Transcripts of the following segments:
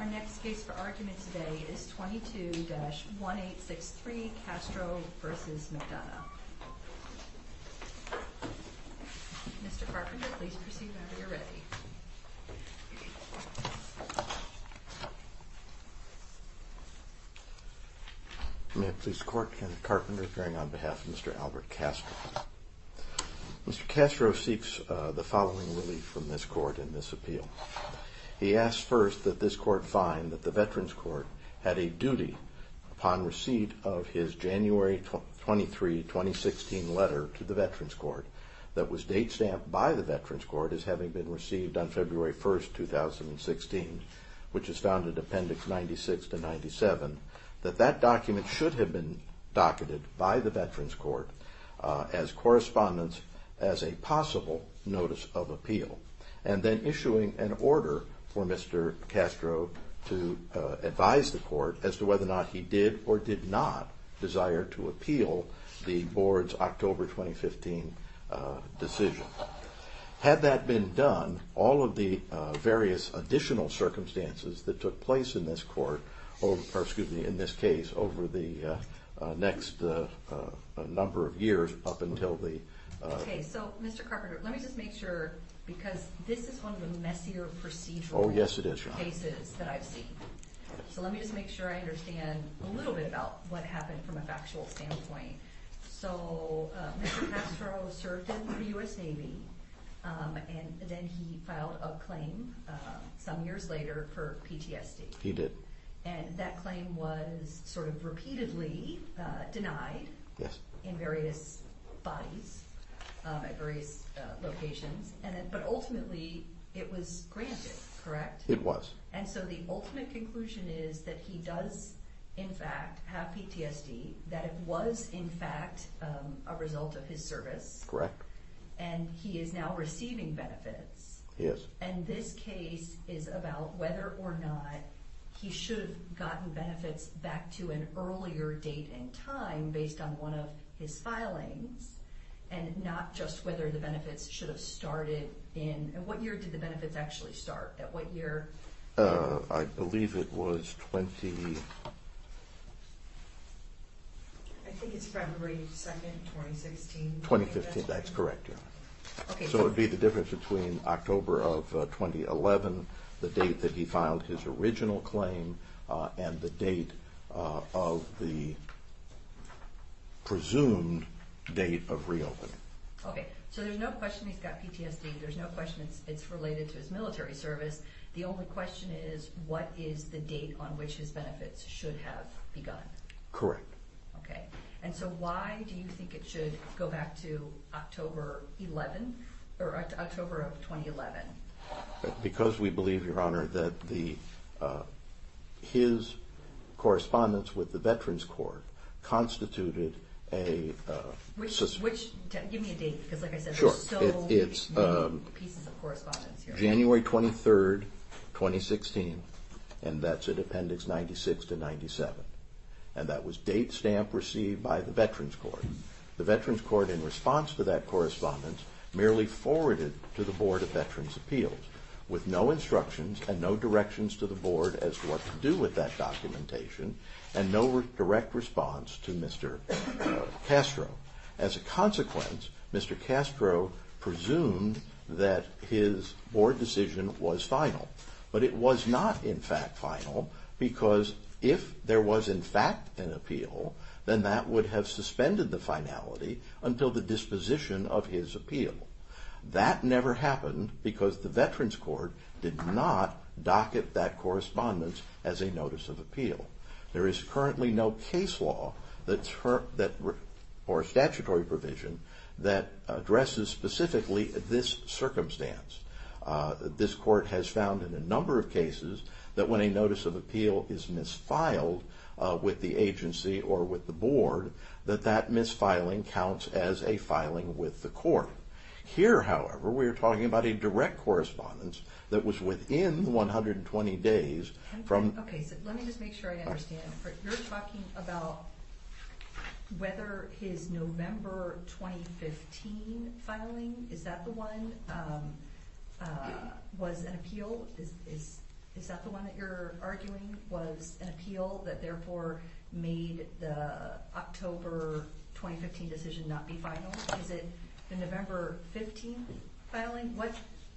Our next case for argument today is 22-1863 Castro v. McDonough. Mr. Carpenter, please proceed whenever you're ready. May it please the Court, Kenneth Carpenter appearing on behalf of Mr. Albert Castro. Mr. Castro seeks the following relief from this Court in this appeal. He asks first that this Court find that the Veterans Court had a duty upon receipt of his January 23, 2016 letter to the Veterans Court that was date-stamped by the Veterans Court as having been received on February 1, 2016, which is found in Appendix 96-97, that that document should have been docketed by the Veterans Court as correspondence as a possible notice of appeal and then issuing an order for Mr. Castro to advise the Court as to whether or not he did or did not desire to appeal the Board's October 2015 decision. Had that been done, all of the various additional circumstances that took place in this case over the next number of years up until the... Okay, so Mr. Carpenter, let me just make sure, because this is one of the messier procedural cases that I've seen. So let me just make sure I understand a little bit about what happened from a factual standpoint. So Mr. Castro served in the U.S. Navy, and then he filed a claim some years later for PTSD. He did. And that claim was sort of repeatedly denied in various bodies at various locations, but ultimately it was granted, correct? It was. And so the ultimate conclusion is that he does, in fact, have PTSD, that it was, in fact, a result of his service. Correct. And he is now receiving benefits. He is. And this case is about whether or not he should have gotten benefits back to an earlier date and time based on one of his filings, and not just whether the benefits should have started in... And what year did the benefits actually start, at what year? I believe it was 20... I think it's February 2nd, 2016. 2015, that's correct, yeah. So it would be the difference between October of 2011, the date that he filed his original claim, and the date of the presumed date of reopening. Okay, so there's no question he's got PTSD. There's no question it's related to his military service. The only question is what is the date on which his benefits should have begun? Correct. Okay. And so why do you think it should go back to October 11th, or October of 2011? Because we believe, Your Honor, that his correspondence with the Veterans Court constituted a... Give me a date, because like I said, there's so many pieces of correspondence here. January 23rd, 2016, and that's at Appendix 96 to 97. And that was date stamp received by the Veterans Court. The Veterans Court, in response to that correspondence, merely forwarded to the Board of Veterans' Appeals, with no instructions and no directions to the Board as to what to do with that documentation, and no direct response to Mr. Castro. As a consequence, Mr. Castro presumed that his board decision was final. But it was not, in fact, final, because if there was, in fact, an appeal, then that would have suspended the finality until the disposition of his appeal. That never happened because the Veterans Court did not docket that correspondence as a notice of appeal. There is currently no case law or statutory provision that addresses specifically this circumstance. This court has found in a number of cases that when a notice of appeal is misfiled with the agency or with the board, that that misfiling counts as a filing with the court. Here, however, we are talking about a direct correspondence that was within 120 days from... Okay, so let me just make sure I understand. You're talking about whether his November 2015 filing, is that the one that you're arguing was an appeal that therefore made the October 2015 decision not be final? Is it the November 2015 filing?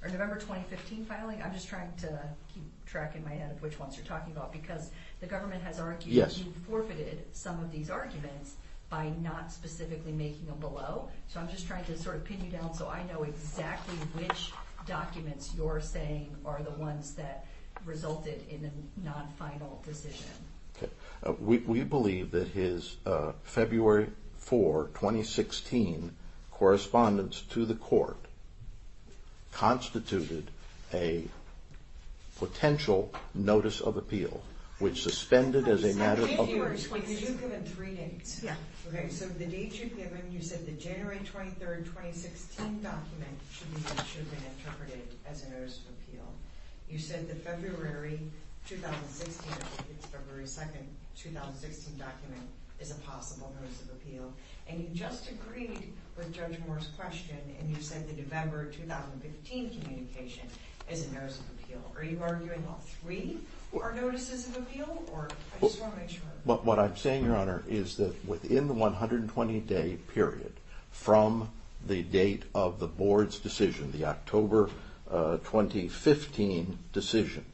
November 2015 filing? I'm just trying to keep track in my head of which ones you're talking about, because the government has argued that you forfeited some of these arguments by not specifically making them below. So I'm just trying to sort of pin you down so I know exactly which documents you're saying are the ones that resulted in a non-final decision. We believe that his February 4, 2016 correspondence to the court constituted a potential notice of appeal, which suspended as a matter of... I'm just going to give you an explanation. Because you've given three dates. Yeah. Okay, so the dates you've given, you said the January 23, 2016 document should have been interpreted as a notice of appeal. You said the February 2, 2016 document is a possible notice of appeal. And you just agreed with Judge Moore's question, and you said the November 2015 communication is a notice of appeal. Are you arguing all three are notices of appeal? I just want to make sure. What I'm saying, Your Honor, is that within the 120-day period from the date of the board's decision, the October 2015 decision,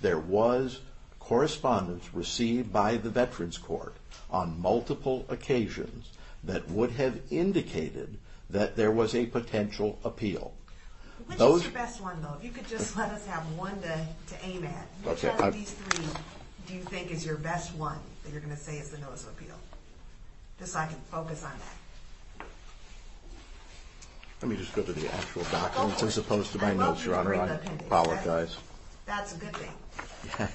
there was correspondence received by the Veterans Court on multiple occasions that would have indicated that there was a potential appeal. Which is your best one, though? If you could just let us have one to aim at. Which of these three do you think is your best one that you're going to say is the notice of appeal? Just so I can focus on that. Let me just go to the actual document, as opposed to my notes, Your Honor. I apologize. That's a good thing.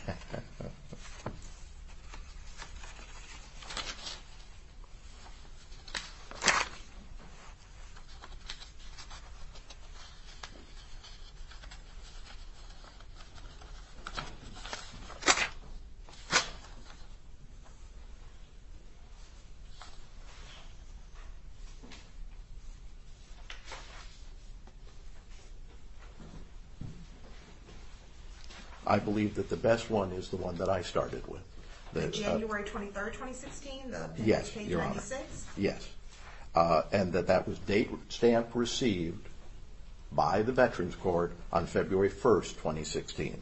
I believe that the best one is the one that I started with. The January 23, 2016? Yes, Your Honor. The page 96? Yes. And that that was stamp received by the Veterans Court on February 1, 2016.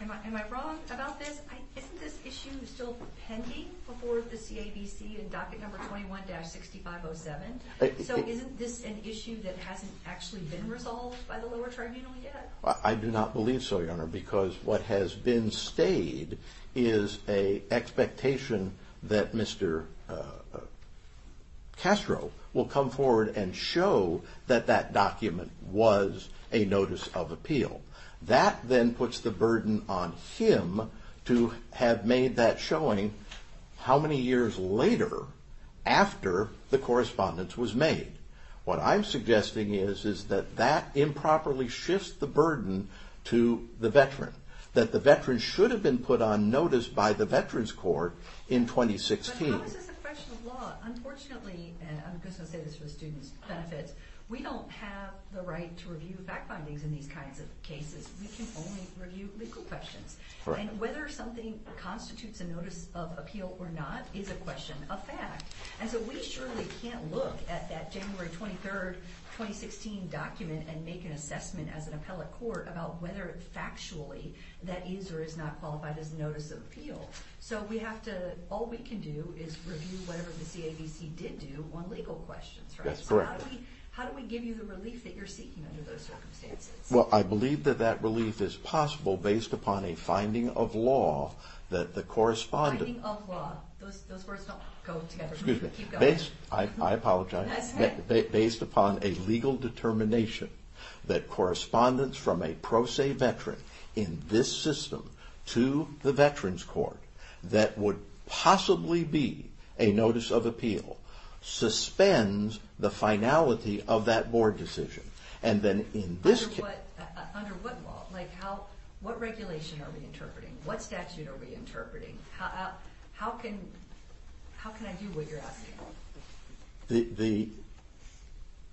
Am I wrong about this? Isn't this issue still pending before the CABC in docket number 21-6507? So isn't this an issue that hasn't actually been resolved by the lower tribunal yet? I do not believe so, Your Honor, because what has been stayed is an expectation that Mr. Castro will come forward and show that that document was a notice of appeal. That then puts the burden on him to have made that showing how many years later, after the correspondence was made. What I'm suggesting is that that improperly shifts the burden to the veteran. That the veteran should have been put on notice by the Veterans Court in 2016. But how is this a question of law? Unfortunately, and I'm just going to say this for the students' benefits, we don't have the right to review fact findings in these kinds of cases. We can only review legal questions. And whether something constitutes a notice of appeal or not is a question of fact. And so we surely can't look at that January 23, 2016 document and make an assessment as an appellate court about whether factually that is or is not qualified as a notice of appeal. So we have to, all we can do is review whatever the CAVC did do on legal questions, right? That's correct. How do we give you the relief that you're seeking under those circumstances? Well, I believe that that relief is possible based upon a finding of law that the correspondence... Finding of law. Those words don't go together. I apologize. That's okay. Based upon a legal determination that correspondence from a pro se veteran in this system to the Veterans Court that would possibly be a notice of appeal, suspends the finality of that board decision. And then in this case... Under what law? Like how, what regulation are we interpreting? What statute are we interpreting? How can I do what you're asking?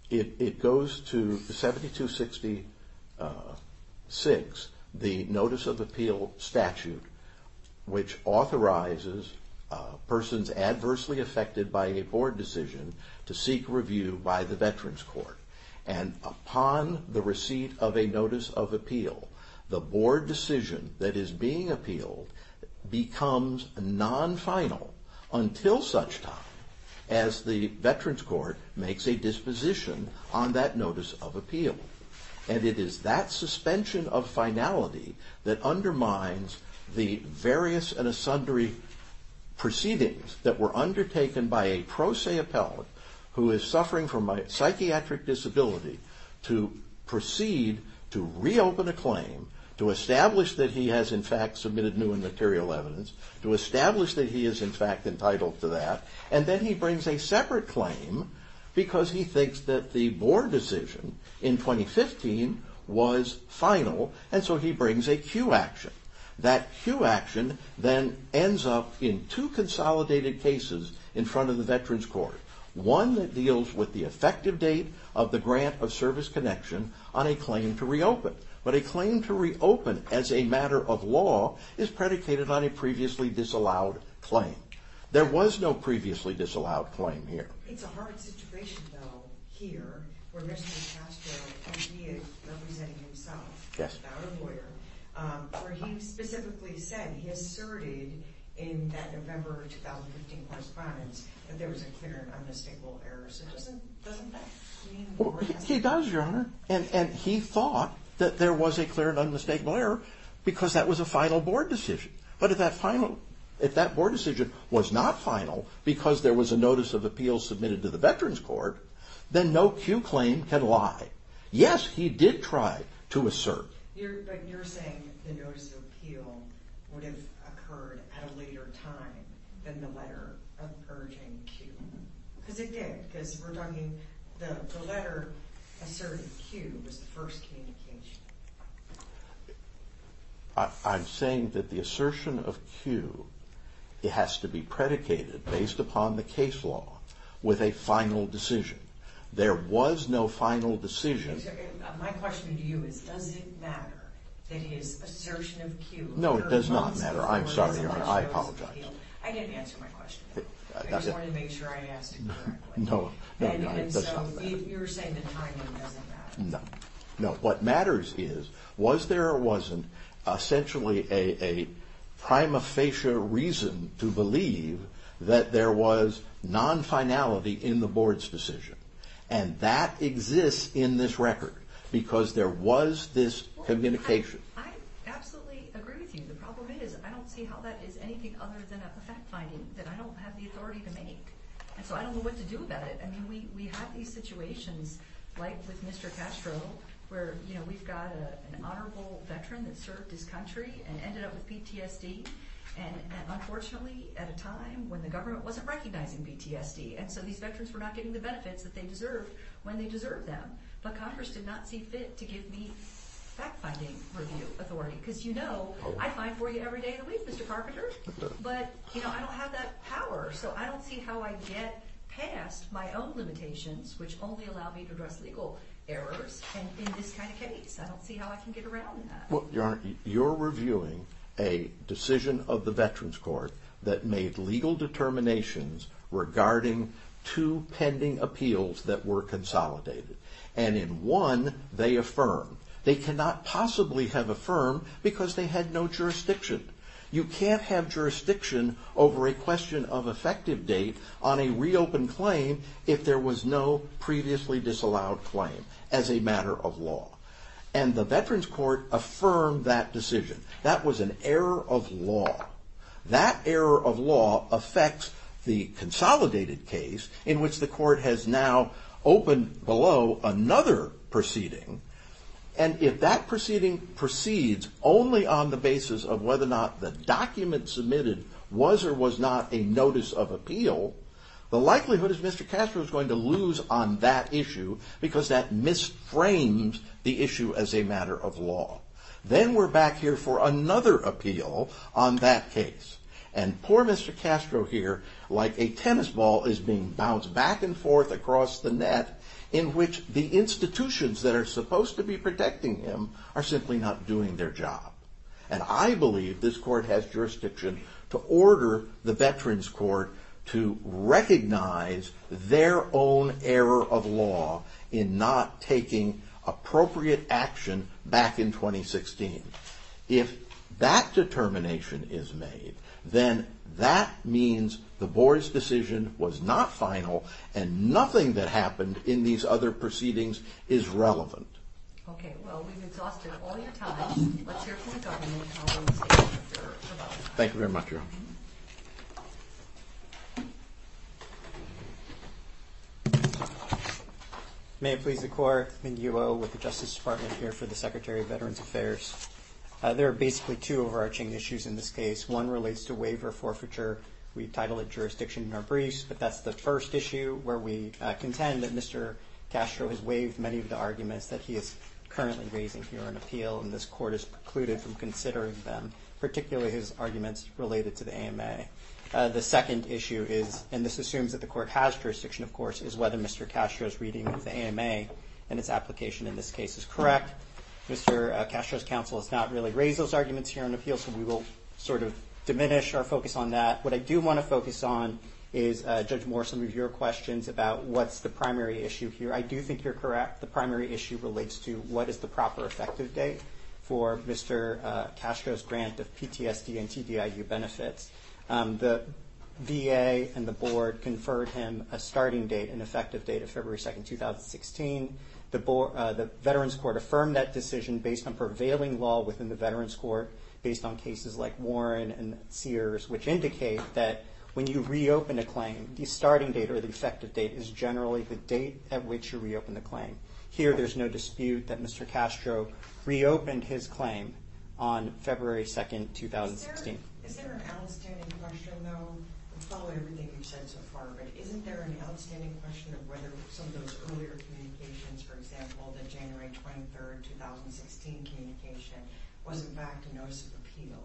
It goes to 7266, the notice of appeal statute, which authorizes persons adversely affected by a board decision to seek review by the Veterans Court. And upon the receipt of a notice of appeal, the board decision that is being appealed becomes non-final until such time as the Veterans Court makes a disposition on that notice of appeal. And it is that suspension of finality that undermines the various and sundry proceedings that were undertaken by a pro se appellate who is suffering from a psychiatric disability to proceed to reopen a claim, to establish that he has in fact submitted new and material evidence, to establish that he is in fact entitled to that. And then he brings a separate claim because he thinks that the board decision in 2015 was final, and so he brings a cue action. That cue action then ends up in two consolidated cases in front of the Veterans Court. One that deals with the effective date of the grant of service connection on a claim to reopen. But a claim to reopen as a matter of law is predicated on a previously disallowed claim. There was no previously disallowed claim here. It's a hard situation though, here, where Mr. Castro, when he is representing himself, without a lawyer, where he specifically said, he asserted in that November 2015 correspondence, that there was a clear and unmistakable error. So doesn't that mean the board has to... He does, Your Honor. And he thought that there was a clear and unmistakable error because that was a final board decision. But if that final, if that board decision was not final because there was a notice of appeal submitted to the Veterans Court, then no cue claim can lie. Yes, he did try to assert. But you're saying the notice of appeal would have occurred at a later time than the letter of urging cue. Because it did, because we're talking, the letter asserting cue was the first communication. I'm saying that the assertion of cue, it has to be predicated based upon the case law with a final decision. There was no final decision. My question to you is, does it matter that his assertion of cue... No, it does not matter. I'm sorry, Your Honor. I apologize. I didn't answer my question. I just wanted to make sure I asked it correctly. No, no, no, it does not matter. And so you're saying the timing doesn't matter. No, no, what matters is was there or wasn't essentially a prima facie reason to believe that there was non-finality in the board's decision. And that exists in this record because there was this communication. I absolutely agree with you. The problem is I don't see how that is anything other than a fact finding that I don't have the authority to make. And so I don't know what to do about it. I mean, we have these situations like with Mr. Castro, where, you know, we've got an honorable veteran that served his country and ended up with PTSD. And unfortunately, at a time when the government wasn't recognizing PTSD. And so these veterans were not getting the benefits that they deserved when they deserved them. But Congress did not see fit to give me fact finding review authority because, you know, I find for you every day of the week, Mr. Carpenter. But, you know, I don't have that power. So I don't see how I get past my own limitations, which only allow me to address legal errors. And in this kind of case, I don't see how I can get around that. Well, Your Honor, you're reviewing a decision of the Veterans Court that made legal determinations regarding two pending appeals that were consolidated. And in one, they affirm they cannot possibly have affirmed because they had no jurisdiction. You can't have jurisdiction over a question of effective date on a reopened claim if there was no previously disallowed claim as a matter of law. And the Veterans Court affirmed that decision. That was an error of law. That error of law affects the consolidated case in which the court has now opened below another proceeding. And if that proceeding proceeds only on the basis of whether or not the document submitted was or was not a notice of appeal, the likelihood is Mr. Castro is going to lose on that issue because that misframes the issue as a matter of law. Then we're back here for another appeal on that case. And poor Mr. Castro here, like a tennis ball, is being bounced back and forth across the net in which the institutions that are supposed to be protecting him are simply not doing their job. And I believe this court has jurisdiction to order the Veterans Court to recognize their own error of law in not taking appropriate action back in 2016. If that determination is made, then that means the board's decision was not final and nothing that happened in these other proceedings is relevant. Okay, well, we've exhausted all your time. Let's hear from the government. Thank you very much. Thank you. May it please the court. Ming-Yu Oh with the Justice Department here for the Secretary of Veterans Affairs. There are basically two overarching issues in this case. One relates to waiver forfeiture. We title it jurisdiction in our briefs, but that's the first issue where we contend that Mr. Castro has waived many of the arguments that he is currently raising here on appeal. And this court has precluded from considering them, particularly his arguments related to the AMA. The second issue is, and this assumes that the court has jurisdiction, of course, is whether Mr. Castro's reading of the AMA and its application in this case is correct. Mr. Castro's counsel has not really raised those arguments here on appeal, so we will sort of diminish our focus on that. What I do want to focus on is, Judge Morrison, with your questions about what's the primary issue here. I do think you're correct. The primary issue relates to what is the proper effective date for Mr. Castro's grant of PTSD and TDIU benefits. The VA and the board conferred him a starting date, an effective date of February 2, 2016. The Veterans Court affirmed that decision based on prevailing law within the Veterans Court, based on cases like Warren and Sears, which indicate that when you reopen a claim, the starting date or the effective date is generally the date at which you reopen the claim. Here, there's no dispute that Mr. Castro reopened his claim on February 2, 2016. Is there an outstanding question, though, following everything you've said so far, but isn't there an outstanding question of whether some of those earlier communications, for example, the January 23, 2016 communication, was in fact a notice of appeal,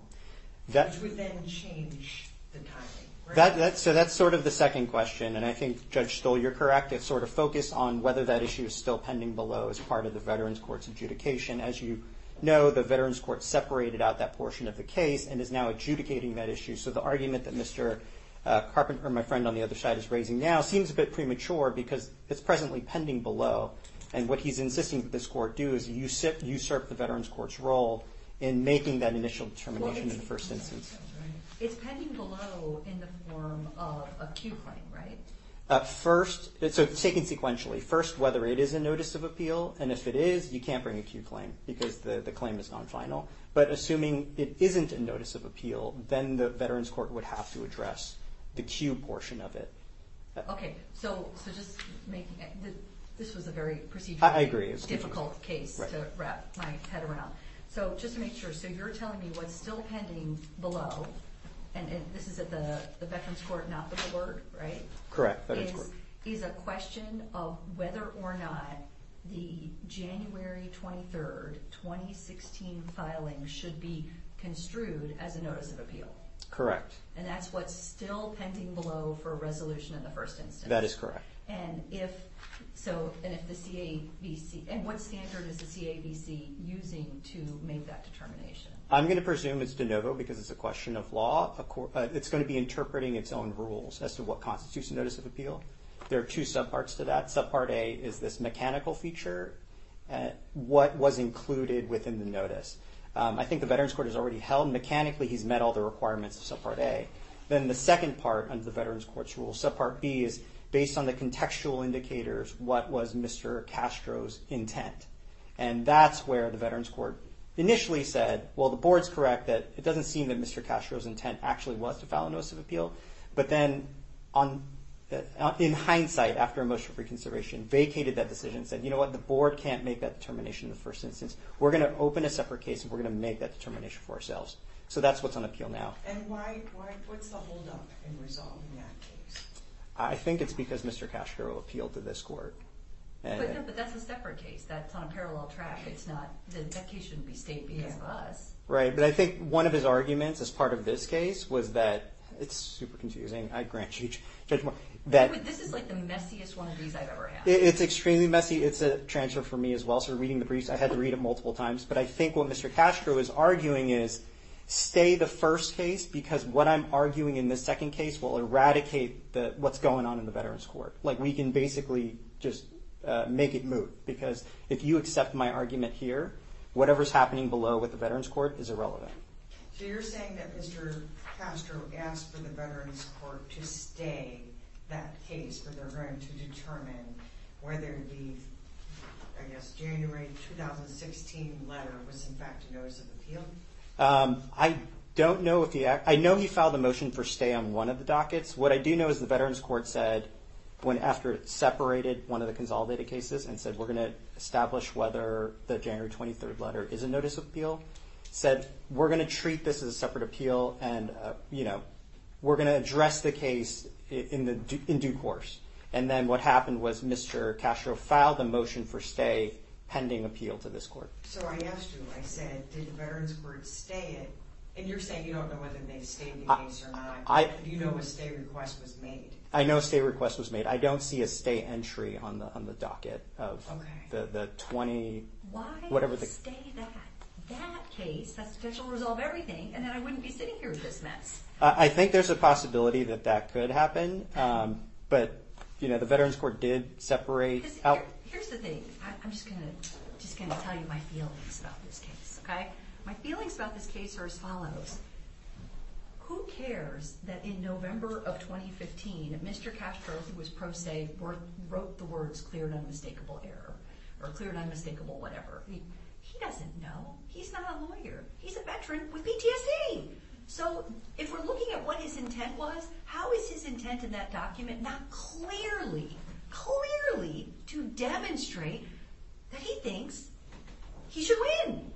which would then change the timing? So that's sort of the second question, and I think, Judge Stoll, you're correct. It's sort of focused on whether that issue is still pending below as part of the Veterans Court's adjudication. As you know, the Veterans Court separated out that portion of the case and is now adjudicating that issue, so the argument that Mr. Carpenter, my friend on the other side, is raising now seems a bit premature because it's presently pending below, and what he's insisting that this court do is usurp the Veterans Court's role in making that initial determination in the first instance. It's pending below in the form of a Q claim, right? First, it's taken sequentially. First, whether it is a notice of appeal, and if it is, you can't bring a Q claim because the claim is non-final. But assuming it isn't a notice of appeal, then the Veterans Court would have to address the Q portion of it. Okay, so just making it, this was a very procedurally difficult case to wrap my head around. So just to make sure, so you're telling me what's still pending below, and this is at the Veterans Court, not the court, right? Correct, Veterans Court. Is a question of whether or not the January 23rd, 2016 filing should be construed as a notice of appeal. Correct. And that's what's still pending below for resolution in the first instance. That is correct. And if so, and if the CAVC, and what standard is the CAVC using to make that determination? I'm going to presume it's de novo because it's a question of law. It's going to be interpreting its own rules as to what constitutes a notice of appeal. There are two subparts to that. Subpart A is this mechanical feature, what was included within the notice. I think the Veterans Court has already held mechanically, he's met all the requirements of subpart A. Then the second part under the Veterans Court's rules, subpart B is based on the contextual indicators, what was Mr. Castro's intent? And that's where the Veterans Court initially said, well, the board's correct that it doesn't seem that Mr. Castro's intent actually was to file a notice of appeal. But then in hindsight, after emotional reconsideration, vacated that decision and said, you know what? The board can't make that determination in the first instance. We're going to open a separate case and we're going to make that determination for ourselves. So that's what's on appeal now. And why, what's the holdup in resolving that case? I think it's because Mr. Castro appealed to this court. But that's a separate case. That's on a parallel track. It's not, that case shouldn't be stated because of us. Right. But I think one of his arguments as part of this case was that, it's super confusing, I grant you judgment. This is like the messiest one of these I've ever had. It's extremely messy. It's a transfer for me as well. I'm also reading the briefs. I had to read them multiple times. But I think what Mr. Castro is arguing is, stay the first case because what I'm arguing in the second case will eradicate what's going on in the Veterans Court. Like we can basically just make it moot. Because if you accept my argument here, whatever's happening below with the Veterans Court is irrelevant. So you're saying that Mr. Castro asked for the Veterans Court to stay that case, but they're going to determine whether the, I guess, January 2016 letter was in fact a notice of appeal? I don't know if he, I know he filed a motion for stay on one of the dockets. What I do know is the Veterans Court said, went after it, separated one of the consolidated cases, and said we're going to establish whether the January 23rd letter is a notice of appeal. Said we're going to treat this as a separate appeal and, you know, we're going to address the case in due course. And then what happened was Mr. Castro filed a motion for stay pending appeal to this court. So I asked you, I said, did the Veterans Court stay it? And you're saying you don't know whether they stayed the case or not. Do you know if a stay request was made? I know a stay request was made. I don't see a stay entry on the docket of the 20, whatever. Stay that. That case has the potential to resolve everything, and then I wouldn't be sitting here with this mess. I think there's a possibility that that could happen. But, you know, the Veterans Court did separate out. Here's the thing. I'm just going to tell you my feelings about this case, okay? My feelings about this case are as follows. Who cares that in November of 2015, Mr. Castro, who was pro se, wrote the words clear and unmistakable error or clear and unmistakable whatever. He doesn't know. He's not a lawyer. He's a veteran with PTSD. So if we're looking at what his intent was, how is his intent in that document not clearly, clearly to demonstrate that he thinks he should win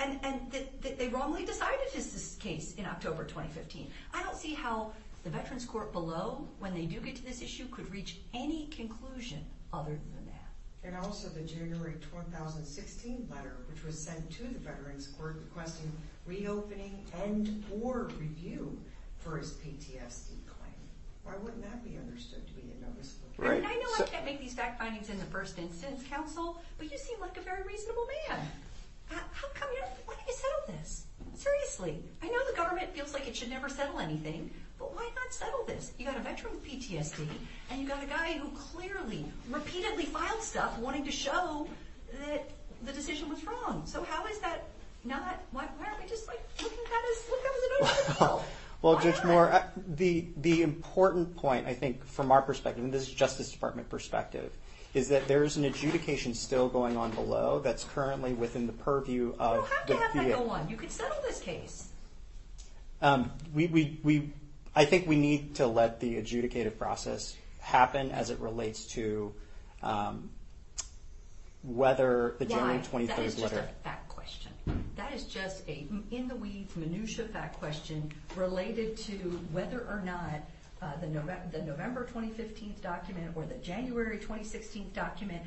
and that they wrongly decided his case in October 2015? I don't see how the Veterans Court below, when they do get to this issue, could reach any conclusion other than that. And also the January 2016 letter, which was sent to the Veterans Court requesting reopening and or review for his PTSD claim. Why wouldn't that be understood to be a noticeable difference? I know I can't make these fact findings in the First Instance Council, but you seem like a very reasonable man. How come you don't want to settle this? Seriously. I know the government feels like it should never settle anything, but why not settle this? You've got a veteran with PTSD, and you've got a guy who clearly, repeatedly filed stuff wanting to show that the decision was wrong. So how is that not? Why aren't we just looking at this? Look, that was a noticeable. Well, Judge Moore, the important point, I think, from our perspective, and this is Justice Department perspective, is that there is an adjudication still going on below that's currently within the purview of the VA. You don't have to have that go on. You can settle this case. I think we need to let the adjudicated process happen as it relates to whether the January 23rd letter. That is just a fact question. That is just a in-the-weeds, minutiae fact question related to whether or not the November 2015 document or the January 2016 document,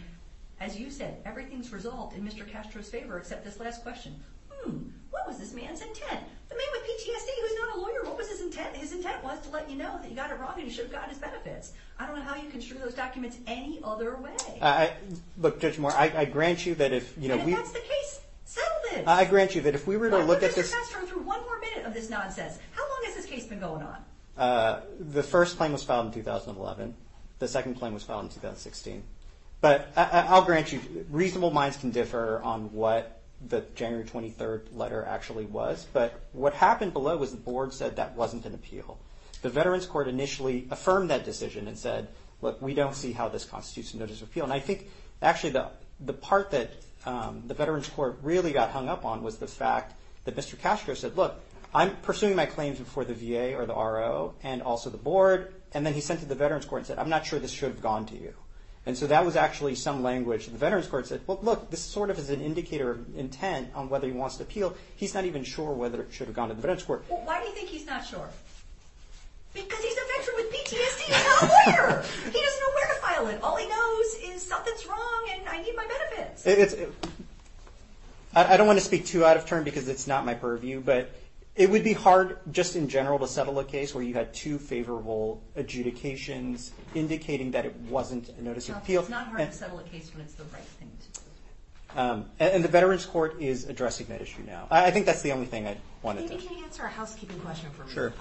as you said, everything's resolved in Mr. Castro's favor except this last question. Hmm. What was this man's intent? The man with PTSD who's not a lawyer, what was his intent? His intent was to let you know that you got it wrong and you should have gotten his benefits. I don't know how you can string those documents any other way. Look, Judge Moore, I grant you that if we… And that's the case. Settle this. I grant you that if we were to look at this… Let Mr. Castro through one more minute of this nonsense. How long has this case been going on? The first claim was filed in 2011. The second claim was filed in 2016. But I'll grant you reasonable minds can differ on what the January 23rd letter actually was. But what happened below was the board said that wasn't an appeal. The Veterans Court initially affirmed that decision and said, look, we don't see how this constitutes a notice of appeal. And I think actually the part that the Veterans Court really got hung up on was the fact that Mr. Castro said, look, I'm pursuing my claims before the VA or the RO and also the board. And then he sent it to the Veterans Court and said, I'm not sure this should have gone to you. And so that was actually some language. The Veterans Court said, well, look, this sort of is an indicator of intent on whether he wants to appeal. He's not even sure whether it should have gone to the Veterans Court. Well, why do you think he's not sure? Because he's a veteran with PTSD and not a lawyer. He doesn't know where to file it. All he knows is something's wrong and I need my benefits. I don't want to speak too out of turn because it's not my purview, but it would be hard just in general to settle a case where you had two favorable adjudications indicating that it wasn't a notice of appeal. It's not hard to settle a case when it's the right thing to do. And the Veterans Court is addressing that issue now. I think that's the only thing I wanted to ask. Can you answer a housekeeping question for me? Sure.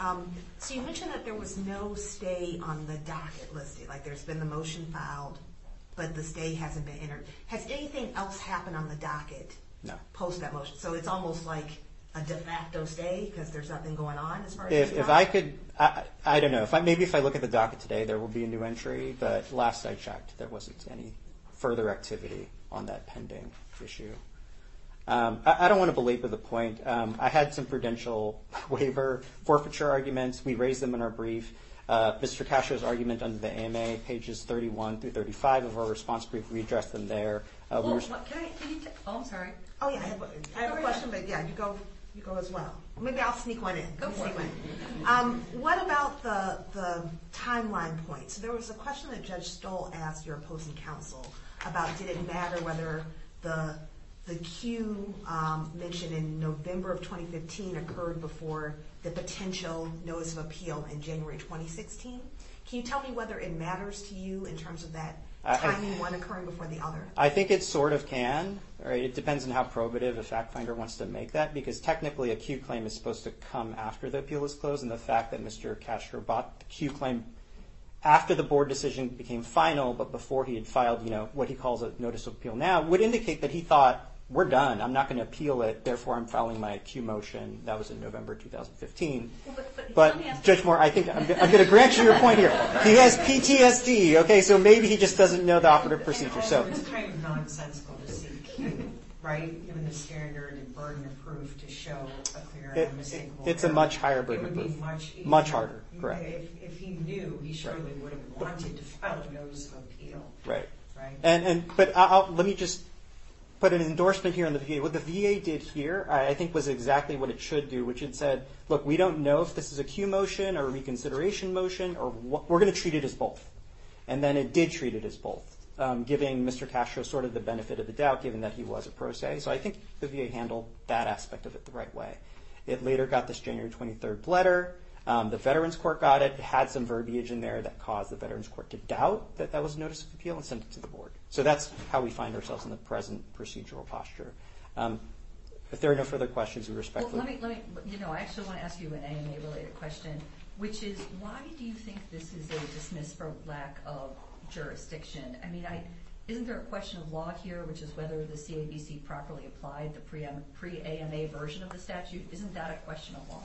So you mentioned that there was no stay on the docket list. Like there's been the motion filed, but the stay hasn't been entered. Has anything else happened on the docket post that motion? So it's almost like a de facto stay because there's nothing going on as far as the docket? I don't know. Maybe if I look at the docket today there will be a new entry, but last I checked there wasn't any further activity on that pending issue. I don't want to belabor the point. I had some prudential waiver forfeiture arguments. We raised them in our brief. Mr. Cascio's argument under the AMA, pages 31 through 35 of our response brief, we addressed them there. Oh, I'm sorry. I have a question, but yeah, you go as well. Maybe I'll sneak one in. Go for it. What about the timeline points? There was a question that Judge Stoll asked your opposing counsel about did it matter whether the cue mentioned in November of 2015 occurred before the potential notice of appeal in January 2016. Can you tell me whether it matters to you in terms of that timing, one occurring before the other? I think it sort of can. It depends on how probative a fact finder wants to make that because technically a cue claim is supposed to come after the appeal is closed, and the fact that Mr. Castro bought the cue claim after the board decision became final but before he had filed what he calls a notice of appeal now would indicate that he thought, we're done, I'm not going to appeal it, therefore I'm filing my cue motion. That was in November 2015. But Judge Moore, I'm going to grant you your point here. He has PTSD, so maybe he just doesn't know the operative procedure. It's kind of nonsensical to say cue, right? Given the standard and burden of proof to show a clear and unmistakable error. It's a much higher burden of proof. It would be much easier. Much harder, correct. If he knew, he surely would have wanted to file a notice of appeal. Right. But let me just put an endorsement here on the VA. What the VA did here I think was exactly what it should do, which it said, look, we don't know if this is a cue motion or a reconsideration motion. We're going to treat it as both. And then it did treat it as both, giving Mr. Castro sort of the benefit of the doubt, given that he was a pro se. So I think the VA handled that aspect of it the right way. It later got this January 23rd letter. The Veterans Court got it. It had some verbiage in there that caused the Veterans Court to doubt that that was a notice of appeal and send it to the board. So that's how we find ourselves in the present procedural posture. If there are no further questions, we respectfully. I actually want to ask you an AMA-related question, which is why do you think this is a dismissed for lack of jurisdiction? I mean, isn't there a question of law here, which is whether the CABC properly applied the pre-AMA version of the statute? Isn't that a question of law?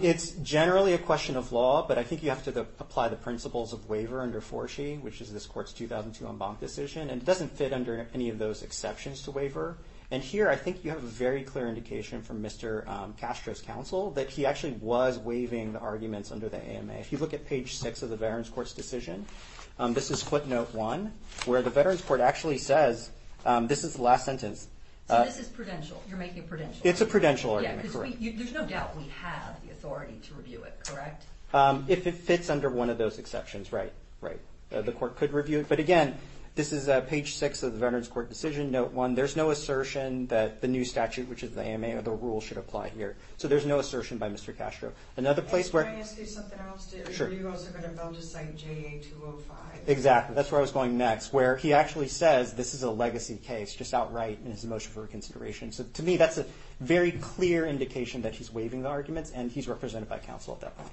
It's generally a question of law, but I think you have to apply the principles of waiver under 4C, which is this court's 2002 en banc decision, and it doesn't fit under any of those exceptions to waiver. And here I think you have a very clear indication from Mr. Castro's counsel that he actually was waiving the arguments under the AMA. If you look at page 6 of the Veterans Court's decision, this is footnote 1, where the Veterans Court actually says, this is the last sentence. So this is prudential. You're making a prudential argument. It's a prudential argument, correct. Yeah, because there's no doubt we have the authority to review it, correct? If it fits under one of those exceptions, right. The court could review it. But again, this is page 6 of the Veterans Court decision, note 1. There's no assertion that the new statute, which is the AMA, or the rule should apply here. So there's no assertion by Mr. Castro. Another place where... Can I ask you something else? Sure. Are you also going to vote to cite JA 205? Exactly. That's where I was going next, where he actually says this is a legacy case, just outright in his motion for reconsideration. So to me, that's a very clear indication that he's waiving the arguments, and he's represented by counsel at that point.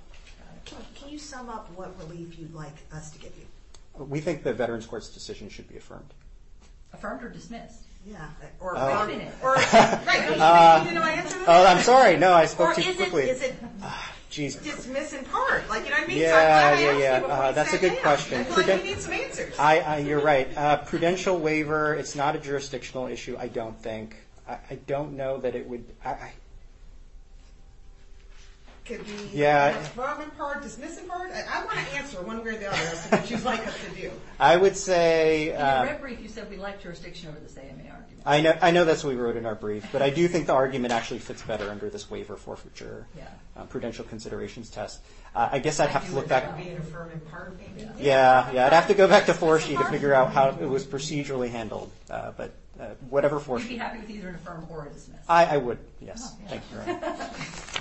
Can you sum up what relief you'd like us to give you? We think the Veterans Court's decision should be affirmed. Affirmed or dismissed? Yeah. Affirmed. Do you know my answer to that? Oh, I'm sorry. No, I spoke too quickly. Or is it dismissed in part? Yeah, yeah, yeah. That's a good question. I feel like you need some answers. You're right. Prudential waiver, it's not a jurisdictional issue, I don't think. I don't know that it would... Could be affirmed in part, dismissed in part? I want to answer one way or the other as to what you'd like us to do. I would say... In the red brief, you said we'd like jurisdiction over the AMA argument. I know that's what we wrote in our brief, but I do think the argument actually fits better under this waiver forfeiture. Yeah. Prudential considerations test. I guess I'd have to look back... Would it be an affirmed in part maybe? Yeah, yeah. I'd have to go back to 4-C to figure out how it was procedurally handled. But whatever 4-C... Would you be happy with either an affirmed or a dismissed? I would, yes. Thank you, Your Honor.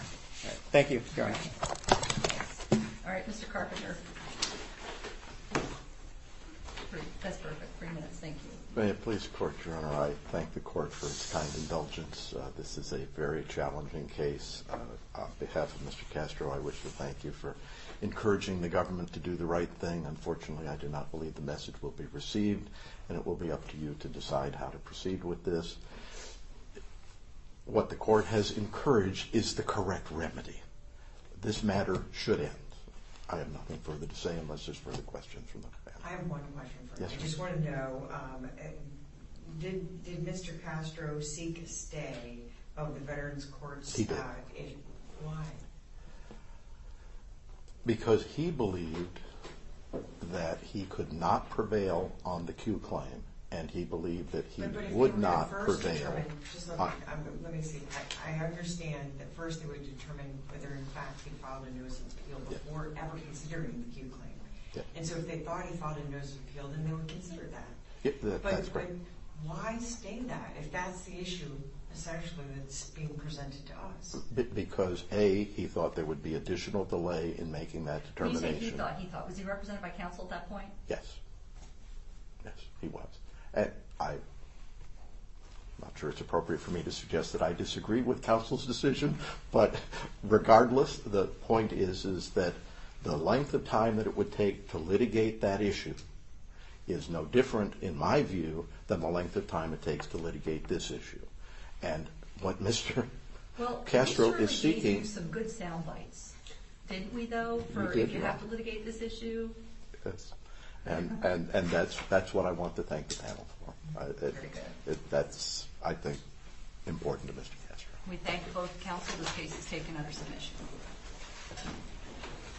Thank you, Your Honor. All right, Mr. Carpenter. That's perfect. Three minutes, thank you. May it please the Court, Your Honor, I thank the Court for its kind indulgence. This is a very challenging case. On behalf of Mr. Castro, I wish to thank you for encouraging the government to do the right thing. Unfortunately, I do not believe the message will be received, and it will be up to you to decide how to proceed with this. What the Court has encouraged is the correct remedy. This matter should end. I have nothing further to say unless there's further questions from the panel. I have one question for you. I just want to know, did Mr. Castro seek stay of the Veterans Courts? He did. Why? Because he believed that he could not prevail on the Q claim, and he believed that he would not prevail on... Let me see. I understand that first they would determine whether, in fact, he filed a nuisance appeal before ever considering the Q claim. And so if they thought he filed a nuisance appeal, then they would consider that. But why stay that if that's the issue, essentially, that's being presented to us? Because, A, he thought there would be additional delay in making that determination. When you say he thought, he thought, was he represented by counsel at that point? Yes. Yes, he was. I'm not sure it's appropriate for me to suggest that I disagree with counsel's decision, but regardless, the point is that the length of time that it would take to litigate that issue is no different, in my view, than the length of time it takes to litigate this issue. And what Mr. Castro is seeking... Well, we certainly gave you some good sound bites, didn't we, though, for if you have to litigate this issue? Yes. And that's what I want to thank the panel for. Very good. That's, I think, important to Mr. Castro. We thank both counsel. This case is taken under submission.